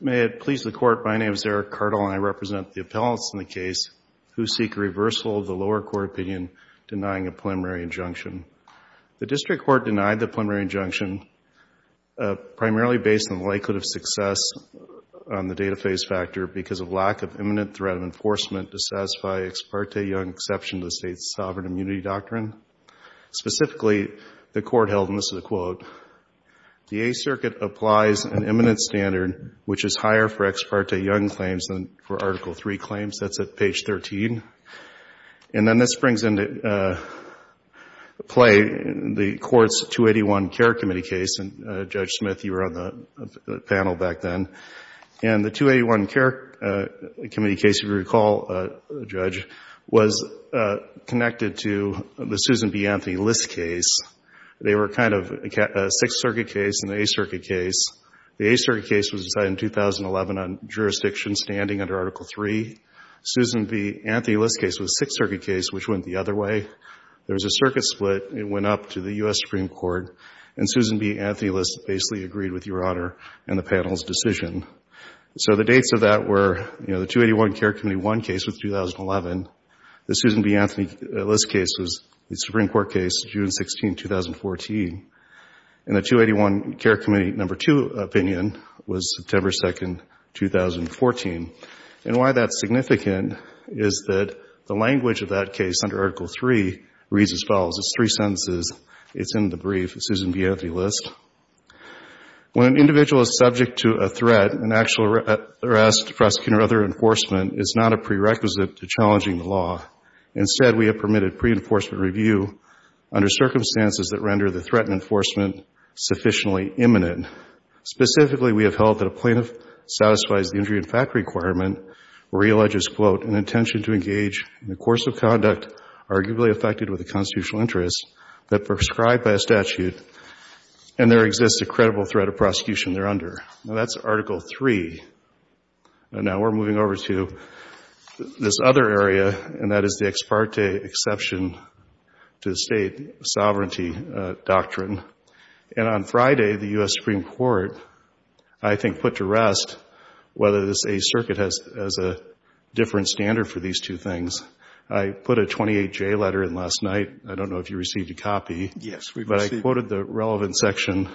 May it please the Court, my name is Eric Cardall and I represent the appellants in the case who seek a reversal of the lower court opinion denying a preliminary injunction. The District Court denied the preliminary injunction primarily based on the likelihood of success on the data phase factor because of lack of imminent threat of enforcement to satisfy Ex parte Young's exception to the State's sovereign immunity doctrine. Specifically, the Court held, and this is a quote, the Eighth Circuit applies an imminent standard which is higher for Ex parte Young claims than for Article III claims. That's at page 13. And then this brings into play the Court's 281 Care Committee case. And Judge Smith, you were on the panel back then. And the 281 Care Committee case, if you recall, Judge, was connected to the kind of Sixth Circuit case and the Eighth Circuit case. The Eighth Circuit case was decided in 2011 on jurisdiction standing under Article III. Susan B. Anthony List's case was the Sixth Circuit case which went the other way. There was a circuit split. It went up to the U.S. Supreme Court. And Susan B. Anthony List basically agreed with Your Honor and the panel's decision. So the dates of that were, you know, the 281 Care Committee 281 case was 2011. The Susan B. Anthony List case was the Supreme Court case, June 16, 2014. And the 281 Care Committee No. 2 opinion was September 2, 2014. And why that's significant is that the language of that case under Article III reads as follows. It's three sentences. It's in the brief, Susan B. Anthony List. When an individual is subject to a threat, an actual arrest, prosecution or other enforcement, it's not a prerequisite to challenging the law. Instead, we have permitted pre-enforcement review under circumstances that render the threat and enforcement sufficiently imminent. Specifically, we have held that a plaintiff satisfies the injury and fact requirement where he alleges, quote, an intention to engage in a course of conduct arguably affected with a constitutional interest but prescribed by a statute and there exists a credible threat of prosecution there under. Now that's Article III. Now we're moving over to this other area and that is the ex parte exception to the state sovereignty doctrine. And on Friday, the U.S. Supreme Court, I think, put to rest whether this age circuit has a different standard for these two things. I put a 28-J letter in last night. I don't know if you received a copy, but I quoted the relevant section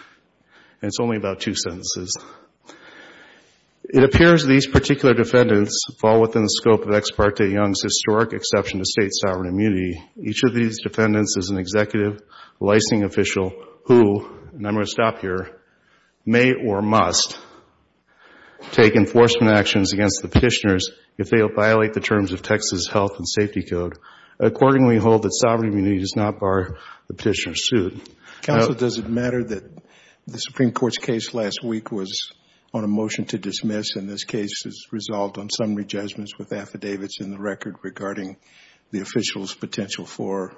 and it's only about two sentences. It appears these particular defendants fall within the scope of ex parte Young's historic exception to state sovereign immunity. Each of these defendants is an executive, licensing official who, and I'm going to stop here, may or must take enforcement actions against the petitioners if they violate the terms of Texas Health and Safety Code. Accordingly, we hold that sovereign immunity does not bar the petitioner's suit. Counsel, does it matter that the Supreme Court's case last week was on a motion to dismiss and this case is resolved on summary judgments with affidavits in the record regarding the official's potential for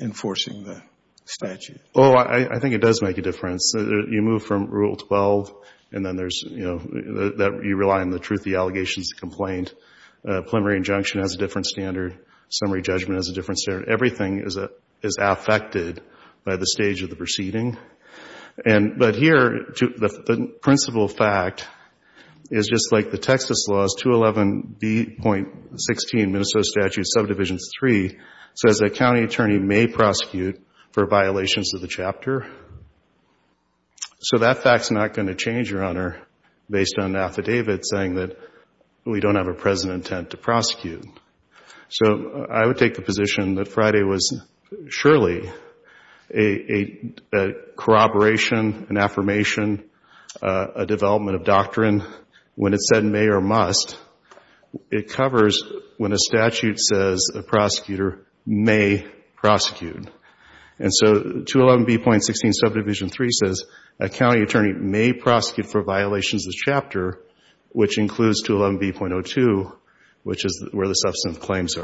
enforcing the statute? Oh, I think it does make a difference. You move from Rule 12 and then there's, you know, you rely on the truth of the allegations to complain. Preliminary injunction has a different stage of the proceeding. But here, the principal fact is just like the Texas laws, 211B.16, Minnesota Statute Subdivisions 3, says that a county attorney may prosecute for violations of the chapter. So that fact's not going to change, Your Honor, based on an affidavit saying that we don't have a present intent to prosecute. So I would take the position that Friday was surely a corroboration, an affirmation, a development of doctrine when it said may or must. It covers when a statute says a prosecutor may prosecute. And so 211B.16 Subdivision 3 says a county attorney may prosecute for substance claims.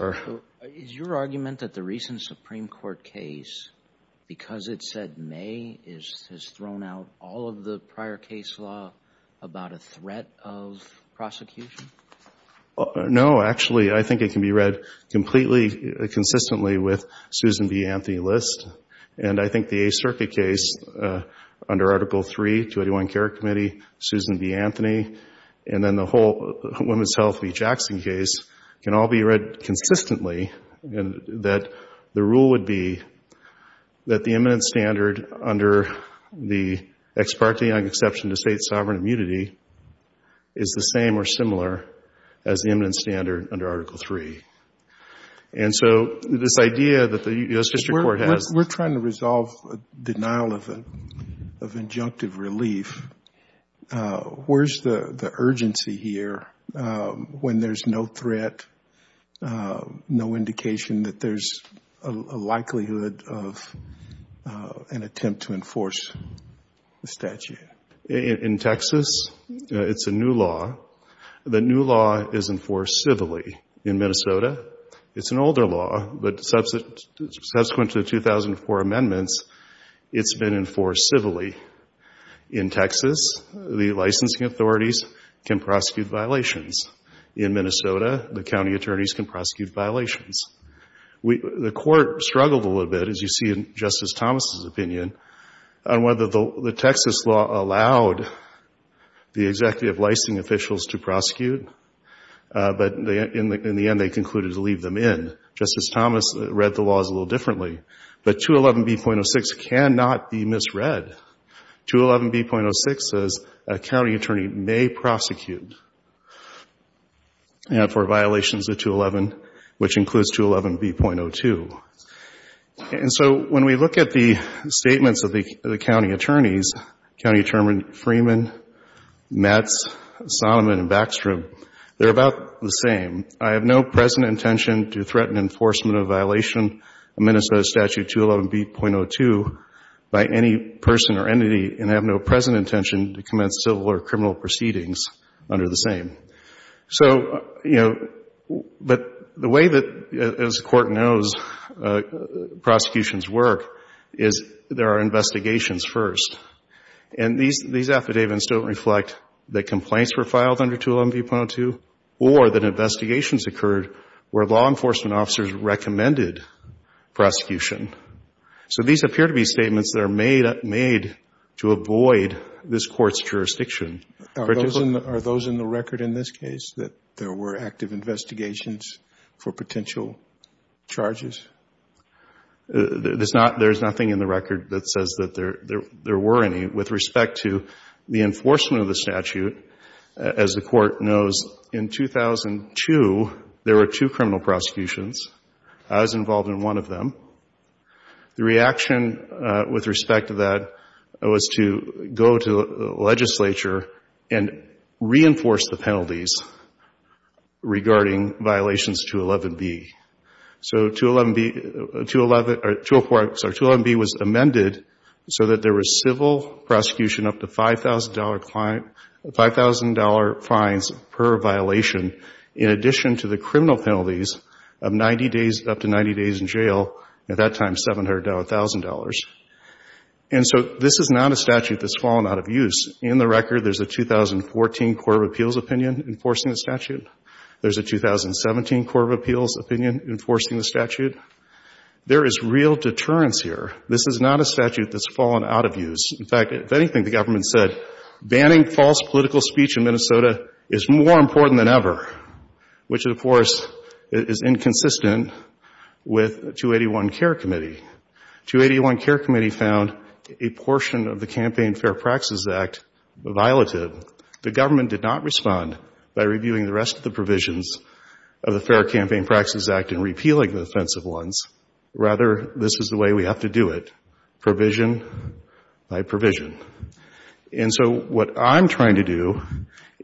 Is your argument that the recent Supreme Court case, because it said may, has thrown out all of the prior case law about a threat of prosecution? No, actually, I think it can be read completely consistently with Susan B. Anthony List. And I think the A Circuit case under Article 3, 281 Care Committee, Susan B. Anthony, and then the whole Women's Health v. Jackson case can all be read consistently, that the rule would be that the eminent standard under the ex parte exception to state sovereign immunity is the same or similar as the eminent standard under Article 3. And so this idea that the U.S. District Court has... In Texas, it's a new law. The new law is enforced civilly. In Minnesota, it's an older law, but subsequent to the 2004 amendments, it's been enforced civilly. In Texas, the county attorneys can prosecute violations. In Minnesota, the county attorneys can prosecute violations. The Court struggled a little bit, as you see in Justice Thomas' opinion, on whether the Texas law allowed the executive licensing officials to prosecute. But in the end, they concluded to leave them in. Justice Thomas read the laws a little differently. But 211B.06 cannot be misread. 211B.06 says a county attorney may prosecute for violations of 211, which includes 211B.02. And so when we look at the statements of the county attorneys, County Attorney Freeman, Metz, Sonneman, and Backstrom, they're about the same. I have no present intention to threaten enforcement of a violation of Minnesota Statute 211B.02 by any person or entity, and I have no present intention to commence civil or criminal proceedings under the same. So, you know, but the way that, as the Court knows, prosecutions work is there are investigations first. And these affidavits don't reflect that complaints were filed under 211B.02 or that investigations occurred where law enforcement officers recommended prosecution. So these appear to be statements that are made to avoid this Court's jurisdiction. Are those in the record in this case, that there were active investigations for potential charges? There's nothing in the record that says that there were any. With respect to the enforcement of the statute, as the Court knows, in 2002, there were two criminal prosecutions. I was involved in one of them. The reaction with respect to that was to go to the legislature and reinforce the penalties regarding violations of 211B. So 211B was amended so that there was civil prosecution up to $5,000 fines per violation in addition to the criminal penalties of 90 days, up to 90 days in jail, at that time $700,000. And so this is not a statute that's fallen out of use. In the record, there's a 2014 Court of Appeals opinion enforcing the statute. There's a 2017 Court of Appeals opinion enforcing the statute. There is real deterrence here. This is not a statute that's fallen out of use. In fact, if anything, the government said banning false political speech in Minnesota is more important than ever, which, of course, is inconsistent with 281 Care Committee. 281 Care Committee found a portion of the Campaign Fair Practices Act violative. The government did not respond by reviewing the rest of the provisions of the Fair Campaign Practices Act and repealing the offensive ones. Rather, this is the way we have to do it, provision by provision. And so what I'm trying to do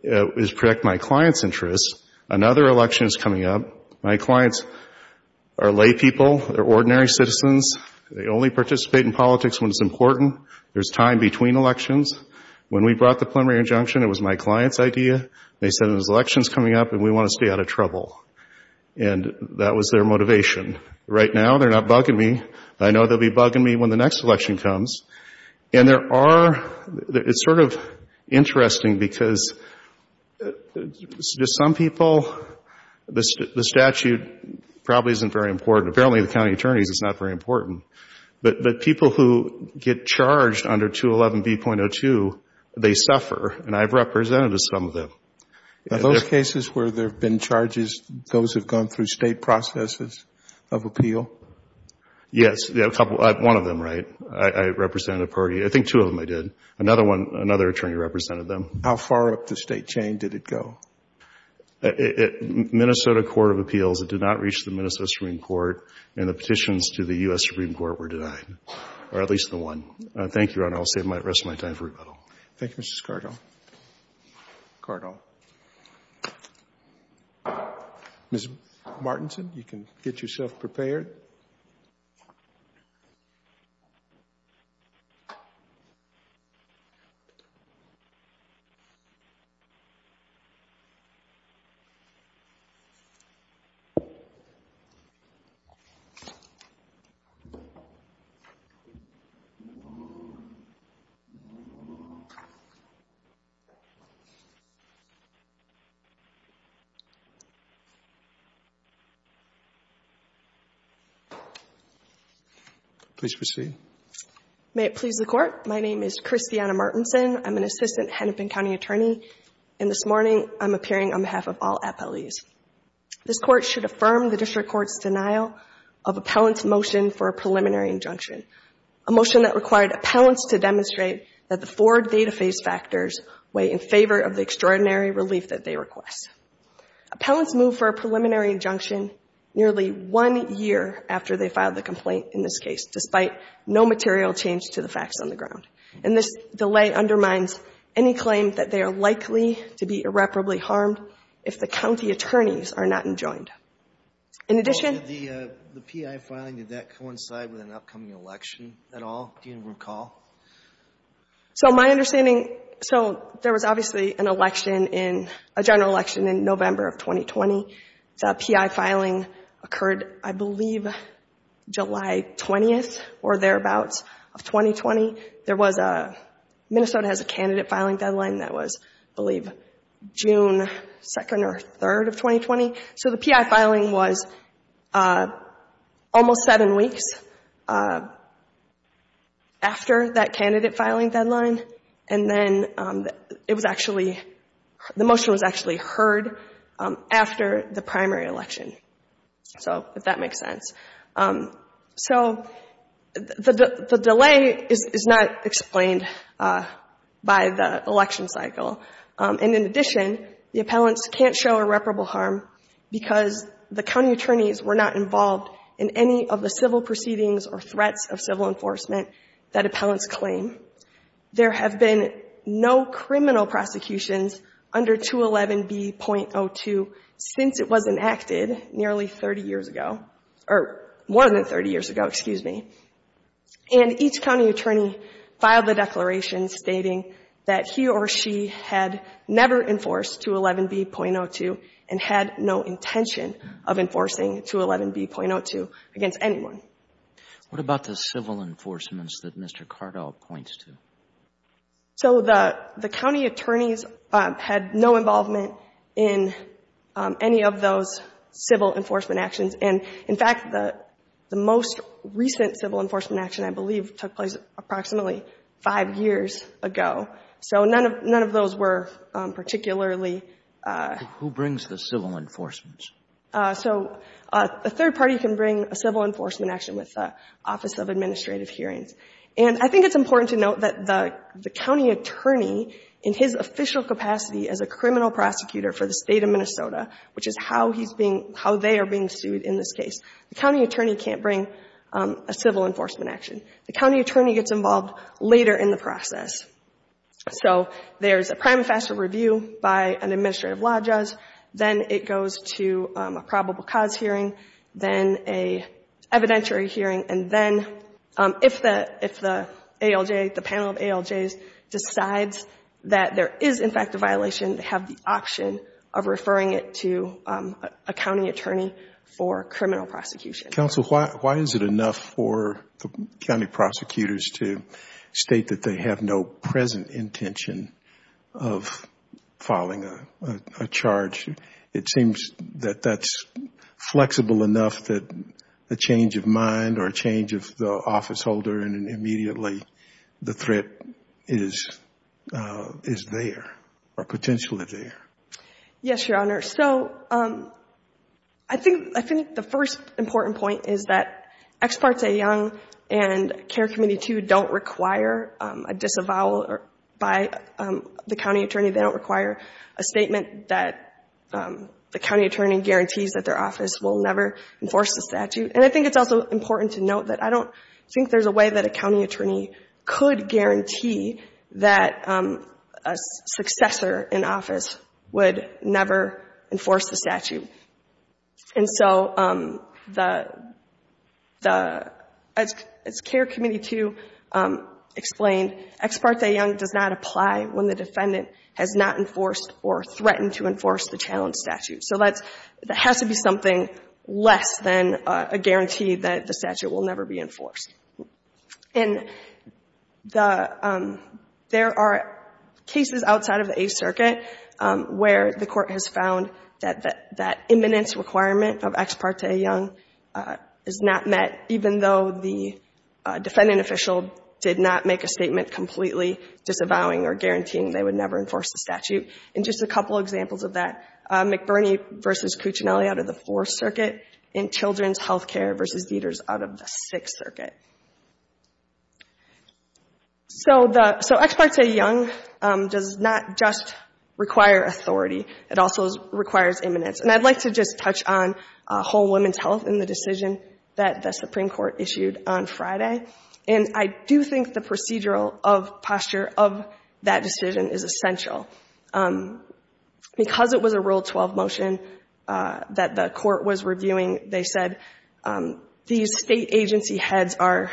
is protect my clients' interests. Another election is coming up. My clients are lay people. They're ordinary citizens. They only participate in politics when it's important. There's time between elections. When we brought the preliminary injunction, it was my client's idea. They said there's elections coming up and we want to stay out of trouble. And that was their motivation. Right now, they're not bugging me. I know they'll be bugging me when the next election comes. And there are, it's sort of interesting because to some people, the statute probably isn't very important. Apparently the county attorneys, it's not very important. But people who get charged under 211B.02, they suffer, and I've represented some of them. Are those cases where there have been charges, those who have gone through State processes of appeal? Yes. One of them, right. I represented a party. I think two of them I did. Another one, another attorney represented them. How far up the State chain did it go? Minnesota Court of Appeals, it did not reach the Minnesota Supreme Court, and the petitions to the U.S. Supreme Court were denied, or at least the one. Thank you, Your Honor. I'll save the rest of my time for rebuttal. Thank you, Mr. Cardo. Ms. Martinson, you can get yourself prepared. May it please the Court. My name is Christiana Martinson. I'm an assistant Hennepin County attorney, and this morning I'm appearing on behalf of all appellees. This Court should affirm the district court's denial of appellant's motion for a preliminary injunction, a motion that required appellants to demonstrate that the four data phase factors weigh in favor of the extraordinary relief that they request. Appellants move for a preliminary injunction nearly one year after they filed the complaint in this case, despite no material change to the facts on the ground. And this delay undermines any claim that they are likely to be irreparably harmed if the county attorneys are not enjoined. In addition Did the P.I. filing, did that coincide with an upcoming election at all? Do you recall? So my understanding, so there was obviously an election in, a general election in November of 2020. The P.I. filing occurred, I believe, July 20th or thereabouts of 2020. There was a, Minnesota has a candidate filing deadline that was, I believe, June 2nd or 3rd of 2020. So the P.I. filing was almost seven weeks after that candidate filing deadline. And then it was actually, the motion was actually heard after the primary election, so if that makes sense. So the delay is not explained by the election cycle. And in addition, the county attorneys were not involved in any of the civil proceedings or threats of civil enforcement that appellants claim. There have been no criminal prosecutions under 211B.02 since it was enacted nearly 30 years ago, or more than 30 years ago, excuse me. And each county attorney filed the declaration stating that he or she had never enforced 211B.02 and had no intention of enforcing 211B.02 against anyone. What about the civil enforcements that Mr. Cardall points to? So the county attorneys had no involvement in any of those civil enforcement actions. And in fact, the most recent civil enforcement action, I believe, took place approximately five years ago. So none of those were particularly ---- Who brings the civil enforcements? So a third party can bring a civil enforcement action with the Office of Administrative Hearings. And I think it's important to note that the county attorney, in his official capacity as a criminal prosecutor for the State of Minnesota, which is how he's being ---- how they are being sued in this case, the county attorney can't bring a civil enforcement action later in the process. So there's a prima facie review by an administrative law judge, then it goes to a probable cause hearing, then an evidentiary hearing, and then if the ALJ, the panel of ALJs decides that there is in fact a violation, they have the option of referring it to a county attorney for criminal prosecution. Counsel, why is it enough for the county prosecutors to state that they have no present intention of filing a charge? It seems that that's flexible enough that a change of mind or a change of the office holder and immediately the threat is there, or potentially there. Yes, Your Honor. So I think the first important point is that Ex Parte Young and Care Committee II don't require a disavowal by the county attorney. They don't require a statement that the county attorney guarantees that their office will never enforce the statute. And I think it's also important to note that I don't think there's a way that a county attorney could guarantee that a successor in office would never enforce the statute. And so the, as Care Committee II explained, Ex Parte Young does not apply when the defendant has not enforced or threatened to enforce the challenge statute. So that has to be something less than a guarantee that the statute will never be enforced. And the, there are cases outside of the Eighth Circuit where the Court has found that that imminence requirement of Ex Parte Young is not met, even though the defendant official did not make a statement completely disavowing or guaranteeing they would never enforce the statute. And just a couple examples of that, McBurney v. Cuccinelli out of the Fourth Circuit and Children's Healthcare v. Dieters out of the Sixth Circuit. So the, so Ex Parte Young does not just require authority. It also requires imminence. And I'd like to just touch on whole women's health in the decision that the Supreme Court issued on Friday. And I do think the procedural of posture of that decision is essential. Because it was a Rule 12 motion that the Court was reviewing, they said, these State Agency heads are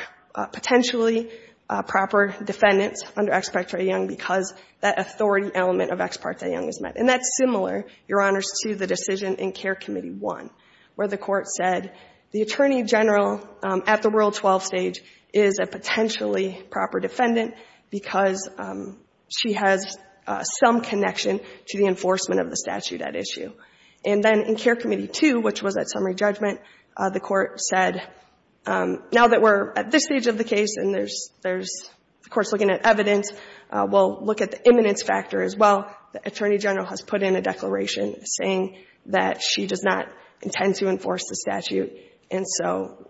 potentially proper defendants under Ex Parte Young because that authority element of Ex Parte Young is met. And that's similar, Your Honors, to the decision in Care Committee I, where the Court said the Attorney General at the Rule 12 stage is a potentially proper defendant because she has self-determination and some connection to the enforcement of the statute at issue. And then in Care Committee II, which was at summary judgment, the Court said, now that we're at this stage of the case and there's, there's, the Court's looking at evidence, we'll look at the imminence factor as well. The Attorney General has put in a declaration saying that she does not intend to enforce the statute. And so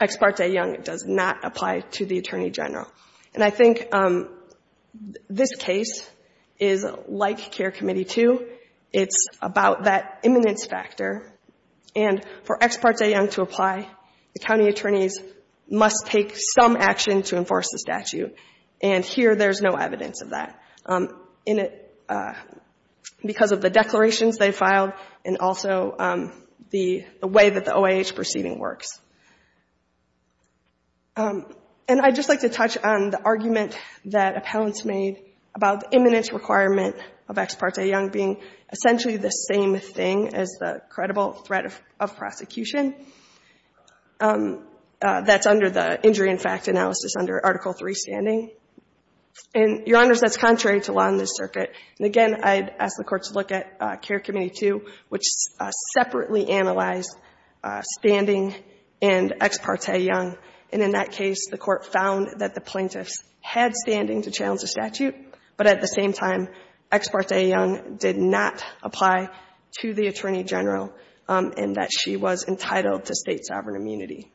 Ex Parte Young does not apply to the Attorney General. And I think this case is like Care Committee II. It's about that imminence factor. And for Ex Parte Young to apply, the county attorneys must take some action to enforce the statute. And here there's no evidence of that in it, because of the declarations they filed and also the way that the OIH proceeding works. And I'd just like to touch on the argument that appellants made about the imminence requirement of Ex Parte Young being essentially the same thing as the credible threat of prosecution. That's under the injury in fact analysis under Article III standing. And, Your Honors, that's contrary to law in this circuit. And again, I'd ask the Court to look at standing and Ex Parte Young. And in that case, the Court found that the plaintiffs had standing to challenge the statute, but at the same time, Ex Parte Young did not apply to the Attorney General and that she was entitled to State sovereign immunity.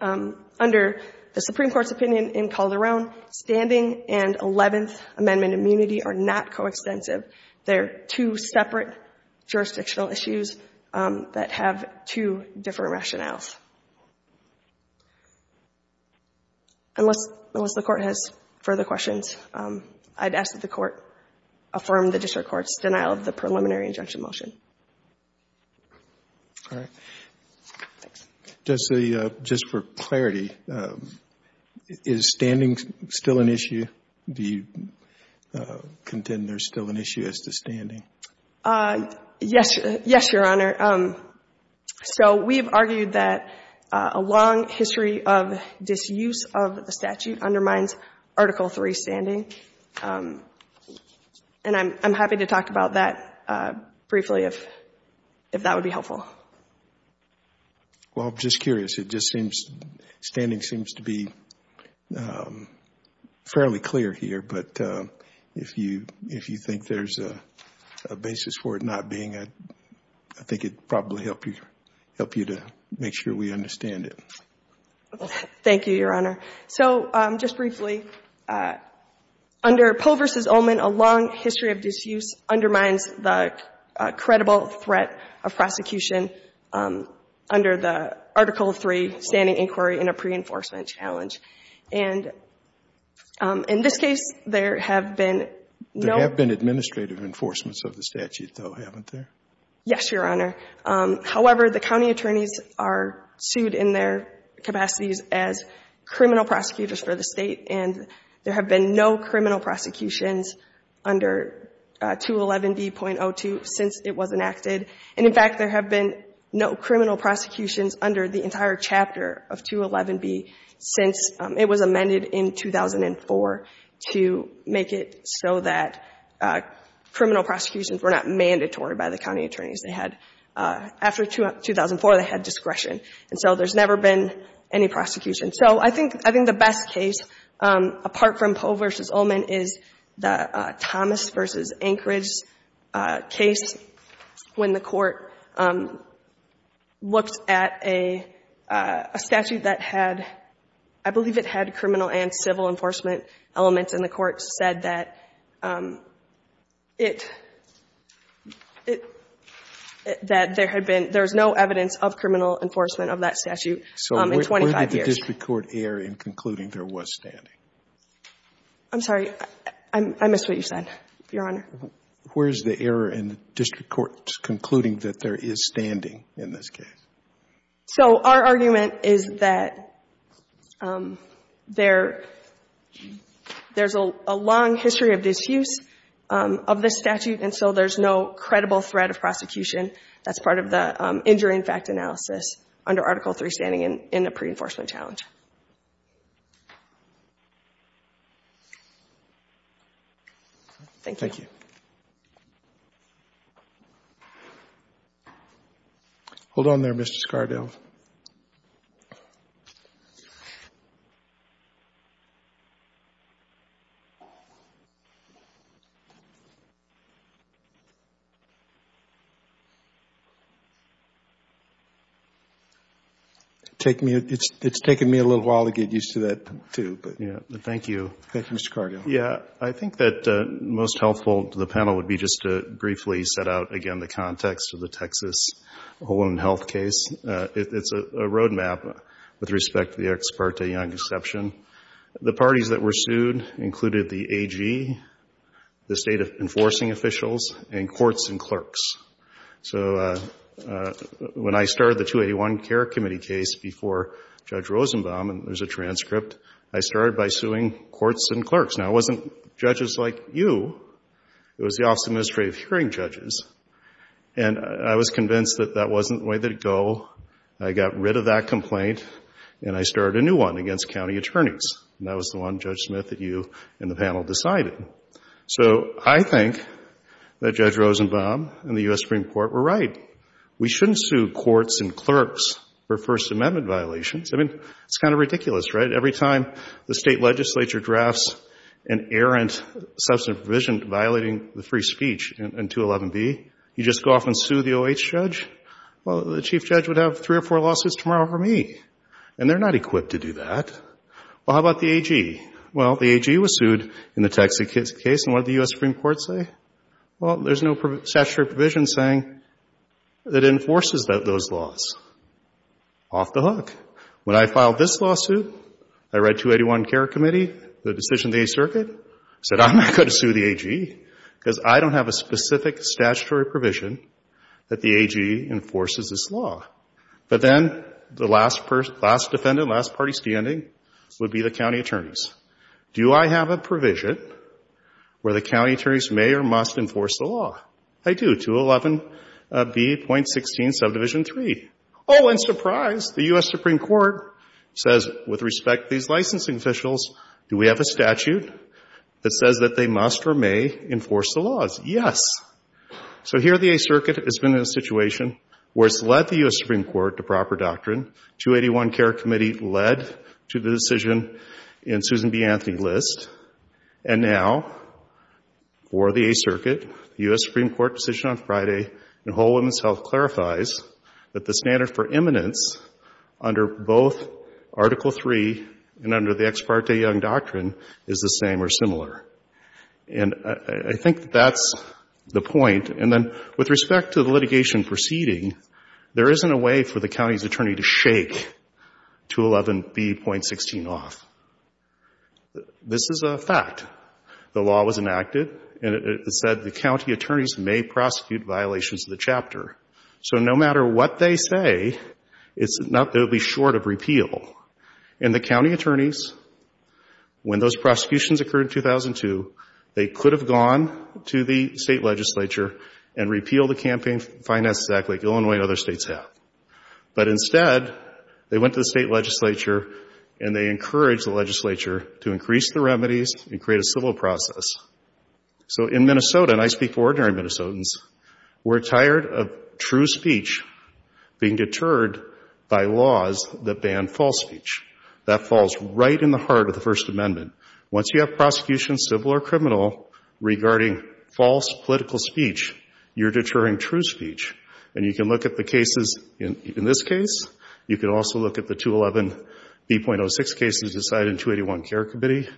Under the Supreme Court's opinion in Calderón, standing and Eleventh Amendment immunity are not coextensive. They're two separate jurisdictional issues that have two different rationales. Unless the Court has further questions, I'd ask that the Court affirm the district court's denial of the preliminary injunction motion. Just for clarity, is standing still an issue? Do you think it's still an issue as to standing? Yes, Your Honor. So we've argued that a long history of disuse of the statute undermines Article III standing. And I'm happy to talk about that briefly if that would be helpful. Well, I'm just curious. It just seems, standing seems to be fairly clear here. But if you think there's a basis for it not being, I think it'd probably help you to make sure we understand it. Thank you, Your Honor. So just briefly, under Poe v. Olman, a long history of disuse undermines the credible threat of prosecution under the Article III standing inquiry in a pre-enforcement challenge. And in this case, there have been no ---- There have been administrative enforcements of the statute, though, haven't there? Yes, Your Honor. However, the county attorneys are sued in their capacities as criminal prosecutors for the State, and there have been no criminal prosecutions under 211B.02 since it was enacted. And in fact, there have been no criminal prosecutions under the entire chapter of 211B since it was amended in 2004 to make it so that criminal prosecutions were not mandatory by the county attorneys. They had ---- After 2004, they had discretion. And so there's never been any prosecution. So I think the best case, apart from Poe v. Olman, is the Thomas v. Anchorage case when the Court looked at a statute that had, I believe it had criminal and civil enforcement elements, and the Court said that it ---- that there had been ---- there was no evidence of criminal enforcement of that statute in 25 years. So when did the district court err in concluding there was standing? I'm sorry. I missed what you said, Your Honor. Where is the error in district courts concluding that there is standing in this case? So our argument is that there's a long history of disuse of this statute, and so there's no credible threat of prosecution. That's part of the injury in fact analysis under Article III standing in the preenforcement challenge. Thank you. Thank you. Hold on there, Mr. Scardell. It's taking me a little while to get used to that, too. Thank you. Thank you, Mr. Scardell. Yeah, I think that most helpful to the panel would be just to briefly set out again the context of the Texas Home and Health case. It's a road map with respect to the Eric Sparte Young exception. The parties that were sued included the AG, the state enforcing officials, and courts and clerks. So when I started the 281 Care Committee case before Judge Rosenbaum, and there's a transcript, I started by suing courts and clerks. Now, it wasn't judges like you. It was the Office of Administrative Hearing Judges, and I was convinced that that wasn't the way to go. I got rid of that complaint, and I started a new one against county attorneys, and that was the one, Judge Smith, that you and the panel decided. So I think that Judge Rosenbaum and the U.S. Supreme Court were right. We shouldn't sue courts and clerks for this inerrant substantive provision violating the free speech in 211B. You just go off and sue the O.H. judge? Well, the chief judge would have three or four lawsuits tomorrow for me, and they're not equipped to do that. Well, how about the AG? Well, the AG was sued in the Texas case, and what did the U.S. Supreme Court say? Well, there's no statutory provision saying that it enforces those laws. Off the hook. When I filed this lawsuit, I read 281 Care Committee, the decision of the Eighth Circuit, said I'm not going to sue the AG because I don't have a specific statutory provision that the AG enforces this law. But then the last defendant, last party standing, would be the county attorneys. Do I have a provision where the county attorneys may or must enforce the law? I do. I'm going to sue 211B.16, Subdivision 3. Oh, and surprise, the U.S. Supreme Court says, with respect to these licensing officials, do we have a statute that says that they must or may enforce the laws? Yes. So here the Eighth Circuit has been in a situation where it's led the U.S. Supreme Court to proper doctrine. 281 Care Committee led to the decision in Susan B. Anthony's list. And now, for the Eighth Circuit, the U.S. Supreme Court decision on Friday in Whole Women's Health clarifies that the standard for imminence under both Article 3 and under the Ex parte Young Doctrine is the same or similar. And I think that's the point. And then with respect to the litigation proceeding, there isn't a way for the county's attorney to shake 211B.16 off. This is a fact. The law was enacted, and it said the county attorneys may prosecute violations of the chapter. So no matter what they say, it's not going to be short of repeal. And the county attorneys, when those prosecutions occurred in 2002, they could have gone to the state legislature and repealed the Campaign Finance Act like Illinois and other states have. But instead, they went to the state legislature, and they encouraged the legislature to increase the remedies and create a civil process. So in Minnesota, and I speak for ordinary Minnesotans, we're tired of true speech being deterred by laws that ban false speech. That falls right in the heart of the First Amendment. Once you have prosecution, civil or criminal, regarding false political speech, you're deterring true speech. And you can look at the cases in this case. You can also look at the 211B.06 cases decided in 281 Care Committee.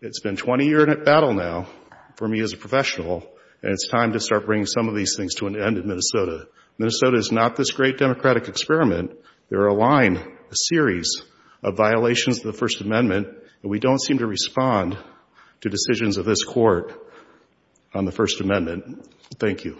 It's been 20 years at battle now for me as a professional, and it's time to start bringing some of these things to an end in Minnesota. Minnesota is not this great democratic experiment. There are a line, a series of violations of the First Amendment. Thank you.